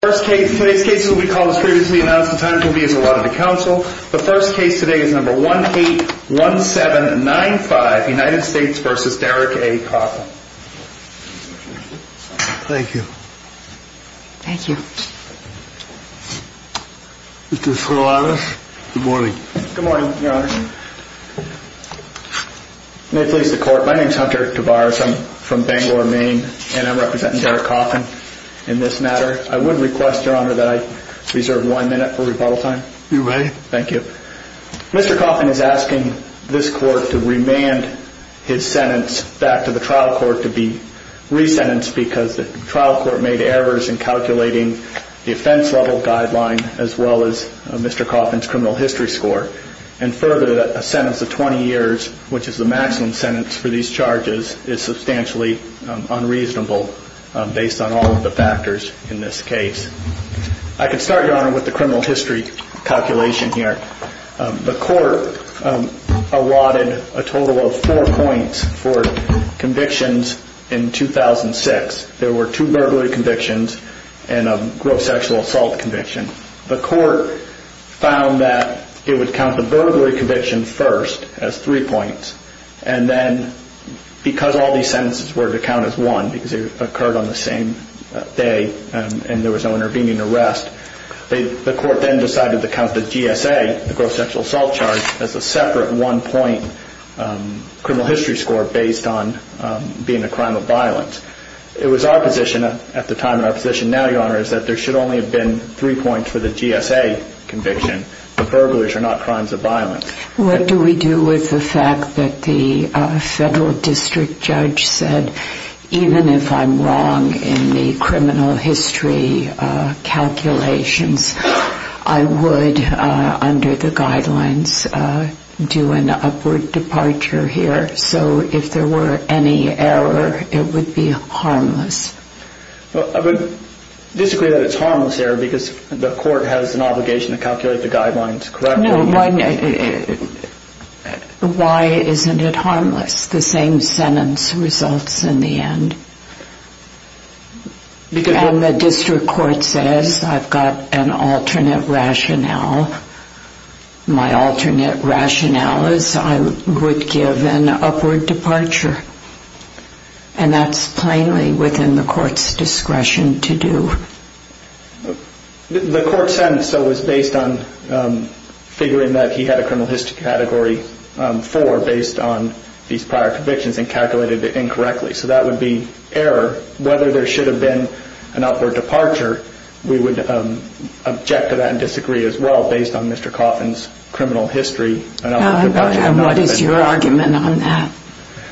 The first case today is number 181795 United States v. Derrick A. Coffin Thank you Thank you Mr. Solanas, good morning Good morning, your honor May it please the court, my name is Hunter DeVars, I'm from Bangor, Maine And I'm representing Derrick Coffin in this matter I would request, your honor, that I reserve one minute for rebuttal time You may Thank you Mr. Coffin is asking this court to remand his sentence back to the trial court to be resentenced Because the trial court made errors in calculating the offense level guideline as well as Mr. Coffin's criminal history score And further, a sentence of 20 years, which is the maximum sentence for these charges, is substantially unreasonable Based on all of the factors in this case I can start, your honor, with the criminal history calculation here The court allotted a total of four points for convictions in 2006 There were two burglary convictions and a gross sexual assault conviction The court found that it would count the burglary conviction first as three points And then, because all these sentences were to count as one, because they occurred on the same day And there was no intervening arrest The court then decided to count the GSA, the gross sexual assault charge, as a separate one point criminal history score Based on being a crime of violence It was our position at the time and our position now, your honor, is that there should only have been three points for the GSA conviction The burglars are not crimes of violence What do we do with the fact that the federal district judge said Even if I'm wrong in the criminal history calculations I would, under the guidelines, do an upward departure here So if there were any error, it would be harmless I would disagree that it's harmless error because the court has an obligation to calculate the guidelines correctly No, why isn't it harmless? The same sentence results in the end And the district court says I've got an alternate rationale My alternate rationale is I would give an upward departure And that's plainly within the court's discretion to do The court sentence was based on figuring that he had a criminal history category four Based on these prior convictions and calculated it incorrectly So that would be error Whether there should have been an upward departure We would object to that and disagree as well based on Mr. Coffin's criminal history And what is your argument on that?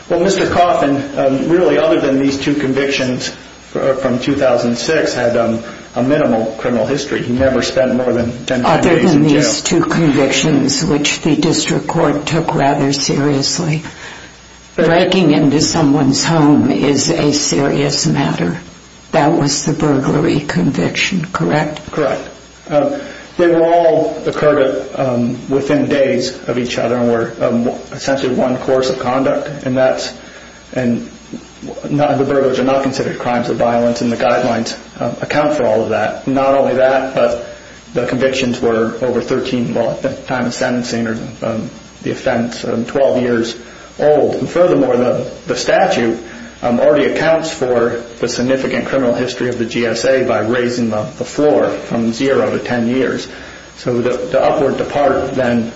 Well, Mr. Coffin, really other than these two convictions from 2006 had a minimal criminal history He never spent more than 10 days in jail Other than these two convictions which the district court took rather seriously Breaking into someone's home is a serious matter That was the burglary conviction, correct? Correct They all occurred within days of each other And were essentially one course of conduct And the burglars are not considered crimes of violence And the guidelines account for all of that Not only that, but the convictions were over 13 at the time of sentencing The offense, 12 years old Furthermore, the statute already accounts for the significant criminal history of the GSA By raising the floor from zero to 10 years So the upward departure then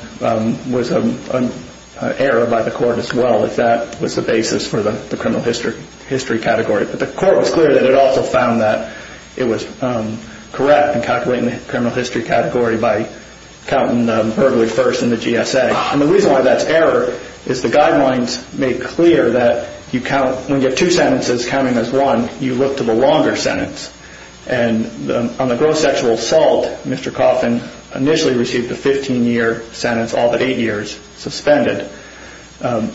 was an error by the court as well If that was the basis for the criminal history category But the court was clear that it also found that it was correct In calculating the criminal history category by counting the burglary first in the GSA And the reason why that's error is the guidelines make clear that When you get two sentences counting as one, you look to the longer sentence And on the gross sexual assault, Mr. Coffin initially received a 15 year sentence All but 8 years suspended And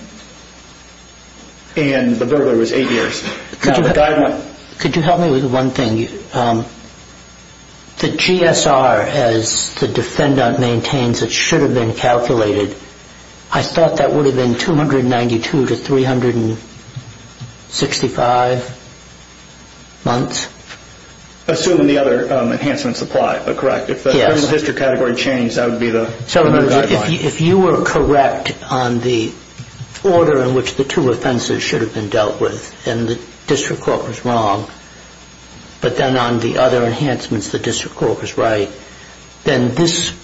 the burglary was 8 years Could you help me with one thing? The GSR as the defendant maintains it should have been calculated I thought that would have been 292 to 365 months Assuming the other enhancements apply, correct? If the criminal history category changed, that would be the guideline If you were correct on the order in which the two offenses should have been dealt with And the district court was wrong But then on the other enhancements the district court was right Then this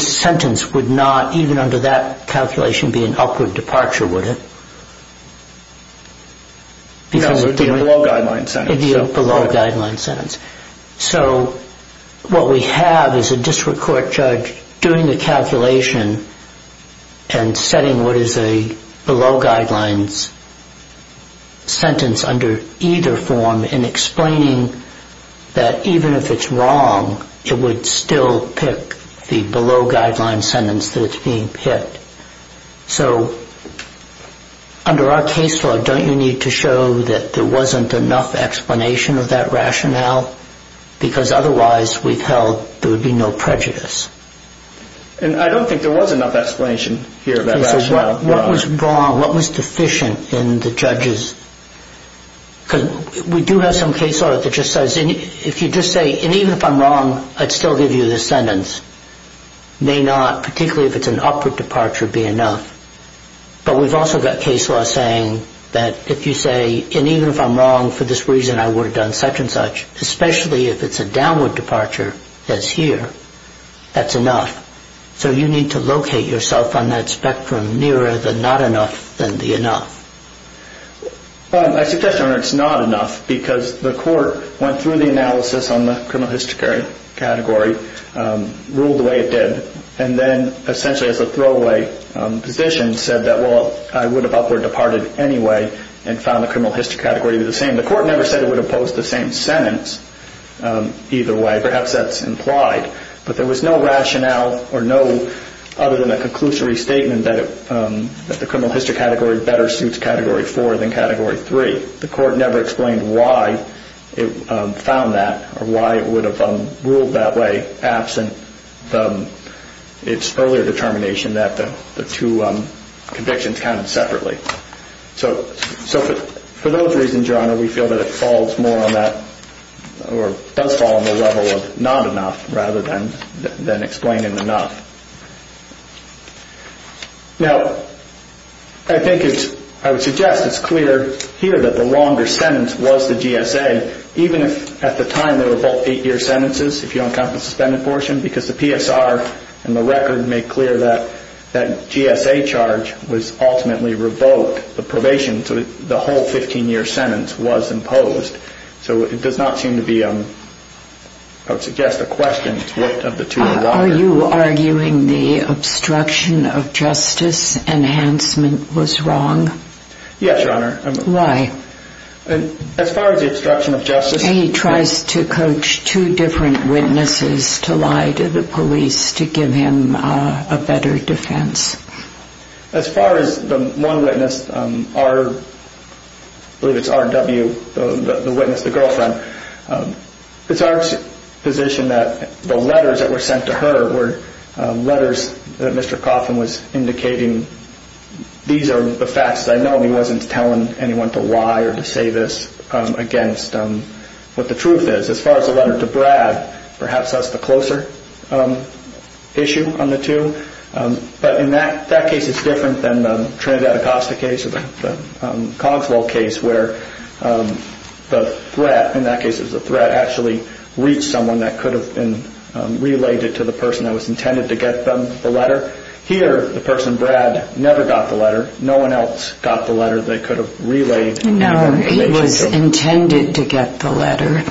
sentence would not, even under that calculation, be an upward departure, would it? No, it would be a below guideline sentence It would be a below guideline sentence So what we have is a district court judge doing the calculation And setting what is a below guidelines sentence under either form And explaining that even if it's wrong It would still pick the below guidelines sentence that it's being picked So under our case law, don't you need to show that there wasn't enough explanation of that rationale? Because otherwise we've held there would be no prejudice And I don't think there was enough explanation here of that rationale What was wrong, what was deficient in the judges Because we do have some case law that just says If you just say, and even if I'm wrong, I'd still give you this sentence May not, particularly if it's an upward departure, be enough But we've also got case law saying that if you say And even if I'm wrong for this reason I would have done such and such Especially if it's a downward departure, as here, that's enough So you need to locate yourself on that spectrum Nearer the not enough than the enough I suggest, Your Honor, it's not enough Because the court went through the analysis on the criminal history category Ruled the way it did And then essentially as a throwaway position Said that well, I would have upward departed anyway And found the criminal history category to be the same The court never said it would oppose the same sentence either way Perhaps that's implied But there was no rationale or no other than a conclusory statement That the criminal history category better suits category 4 than category 3 The court never explained why it found that Or why it would have ruled that way Absent its earlier determination that the two convictions counted separately So for those reasons, Your Honor, we feel that it falls more on that Or does fall on the level of not enough Rather than explaining the not Now, I would suggest it's clear here that the longer sentence was the GSA Even if at the time they were both 8-year sentences If you don't count the suspended portion Because the PSR and the record make clear that That GSA charge was ultimately revoked The probation, the whole 15-year sentence was imposed So it does not seem to be I would suggest the question is what of the two are longer Are you arguing the obstruction of justice enhancement was wrong? Yes, Your Honor Why? As far as the obstruction of justice He tries to coach two different witnesses to lie to the police To give him a better defense As far as the one witness, I believe it's RW, the witness, the girlfriend It's our position that the letters that were sent to her Were letters that Mr. Coffin was indicating These are the facts that I know And he wasn't telling anyone to lie or to say this Against what the truth is As far as the letter to Brad Perhaps that's the closer issue on the two But in that case it's different than the Trinidad Acosta case Or the Kongsville case Where the threat, in that case it was a threat Actually reached someone that could have been Related to the person that was intended to get the letter Here the person, Brad, never got the letter No one else got the letter that could have relayed No, it was intended to get the letter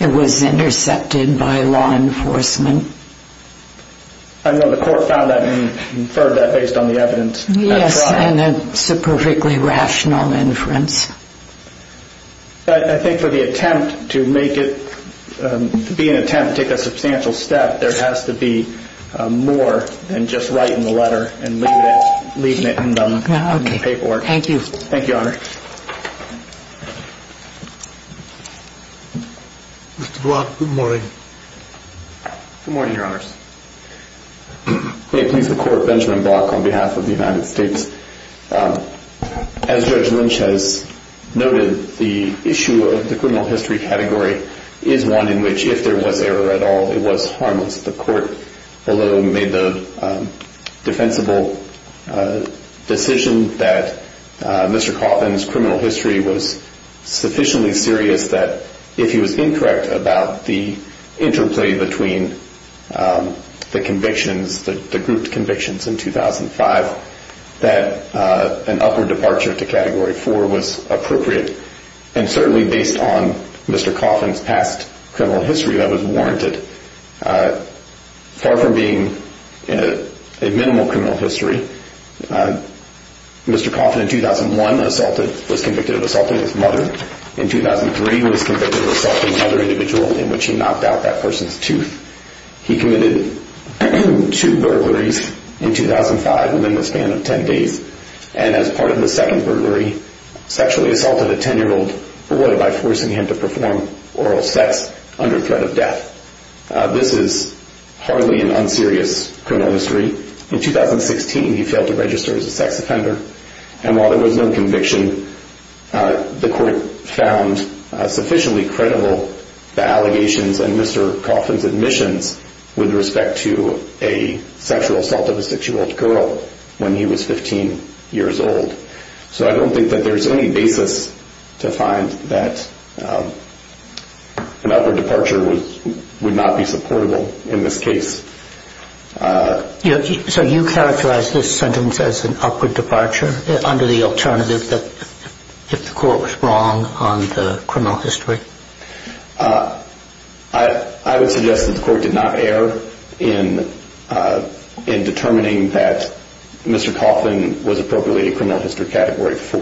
It was intercepted by law enforcement I know the court found that and inferred that based on the evidence Yes, and it's a perfectly rational inference But I think for the attempt to make it To be an attempt to take a substantial step There has to be more than just writing the letter And leaving it in the paperwork Thank you Thank you, Your Honor Mr. Block, good morning Good morning, Your Honors May it please the Court Benjamin Block on behalf of the United States As Judge Lynch has noted The issue of the criminal history category Is one in which if there was error at all It was harmless The Court below made the defensible decision That Mr. Coffin's criminal history was sufficiently serious That if he was incorrect about the interplay Between the convictions, the grouped convictions in 2005 That an upward departure to Category 4 was appropriate And certainly based on Mr. Coffin's past criminal history That was warranted Far from being a minimal criminal history Mr. Coffin in 2001 was convicted of assaulting his mother In 2003 was convicted of assaulting another individual In which he knocked out that person's tooth He committed two burglaries in 2005 Within the span of 10 days And as part of the second burglary Sexually assaulted a 10-year-old boy By forcing him to perform oral sex Under threat of death This is hardly an unserious criminal history In 2016 he failed to register as a sex offender And while there was no conviction The Court found sufficiently credible The allegations and Mr. Coffin's admissions With respect to a sexual assault of a 6-year-old girl When he was 15 years old So I don't think that there's any basis To find that an upward departure would not be supportable In this case So you characterize this sentence as an upward departure Under the alternative that If the Court was wrong on the criminal history I would suggest that the Court did not err In determining that Mr. Coffin Was appropriately a criminal history category 4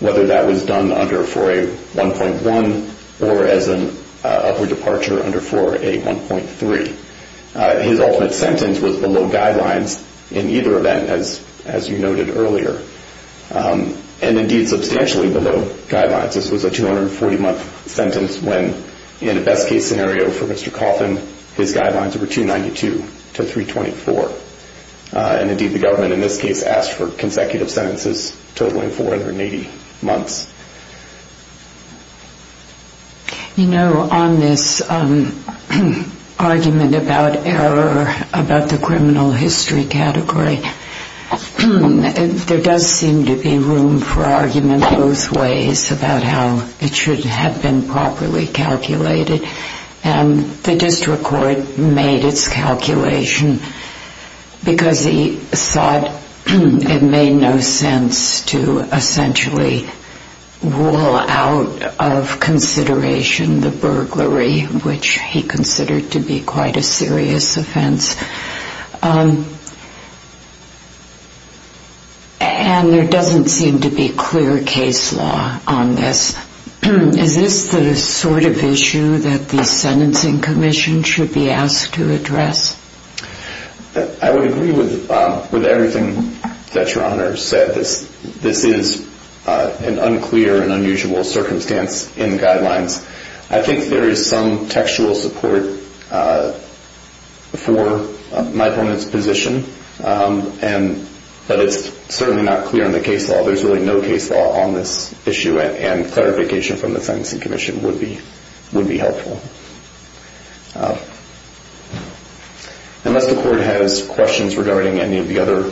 Whether that was done under 4A1.1 Or as an upward departure under 4A1.3 His ultimate sentence was below guidelines In either event as you noted earlier And indeed substantially below guidelines This was a 240-month sentence When in a best case scenario for Mr. Coffin His guidelines were 292 to 324 And indeed the government in this case Asked for consecutive sentences Totaling 480 months You know on this argument about error About the criminal history category There does seem to be room for argument both ways About how it should have been properly calculated And the District Court made its calculation Because he thought it made no sense To essentially rule out of consideration The burglary which he considered To be quite a serious offense And there doesn't seem to be clear case law on this Is this the sort of issue that the Sentencing Commission Should be asked to address? I would agree with everything that Your Honor said That this is an unclear and unusual circumstance In the guidelines I think there is some textual support For my opponent's position But it's certainly not clear in the case law There's really no case law on this issue And clarification from the Sentencing Commission Would be helpful Unless the Court has questions Regarding any of the other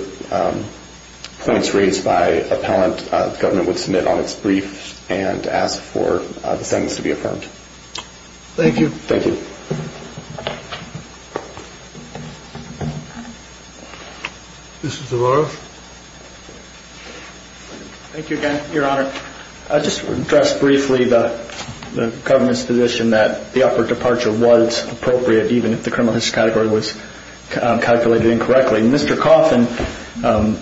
points raised by appellant The government would submit on its brief And ask for the sentence to be affirmed Thank you Mr. Zavarro Thank you again, Your Honor Just to address briefly the government's position That the upward departure was appropriate Even if the criminal history category was calculated incorrectly Mr. Coffin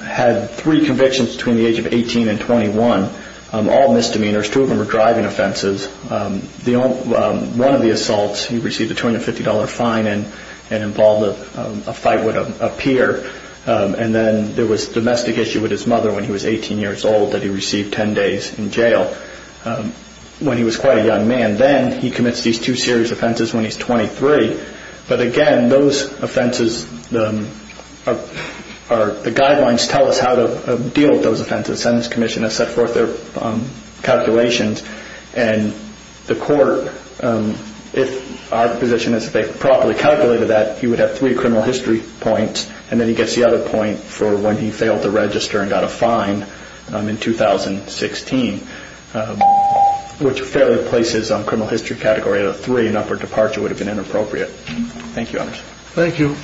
had three convictions Between the age of 18 and 21 All misdemeanors Two of them were driving offenses One of the assaults, he received a $250 fine And involved a fight with a peer And then there was a domestic issue with his mother When he was 18 years old That he received 10 days in jail When he was quite a young man And then he commits these two serious offenses when he's 23 But again, those offenses The guidelines tell us how to deal with those offenses The Sentencing Commission has set forth their calculations And the Court If our position is that they've properly calculated that He would have three criminal history points And then he gets the other point For when he failed to register and got a fine in 2016 Which fairly places criminal history category at a 3 An upward departure would have been inappropriate Thank you, Your Honor Thank you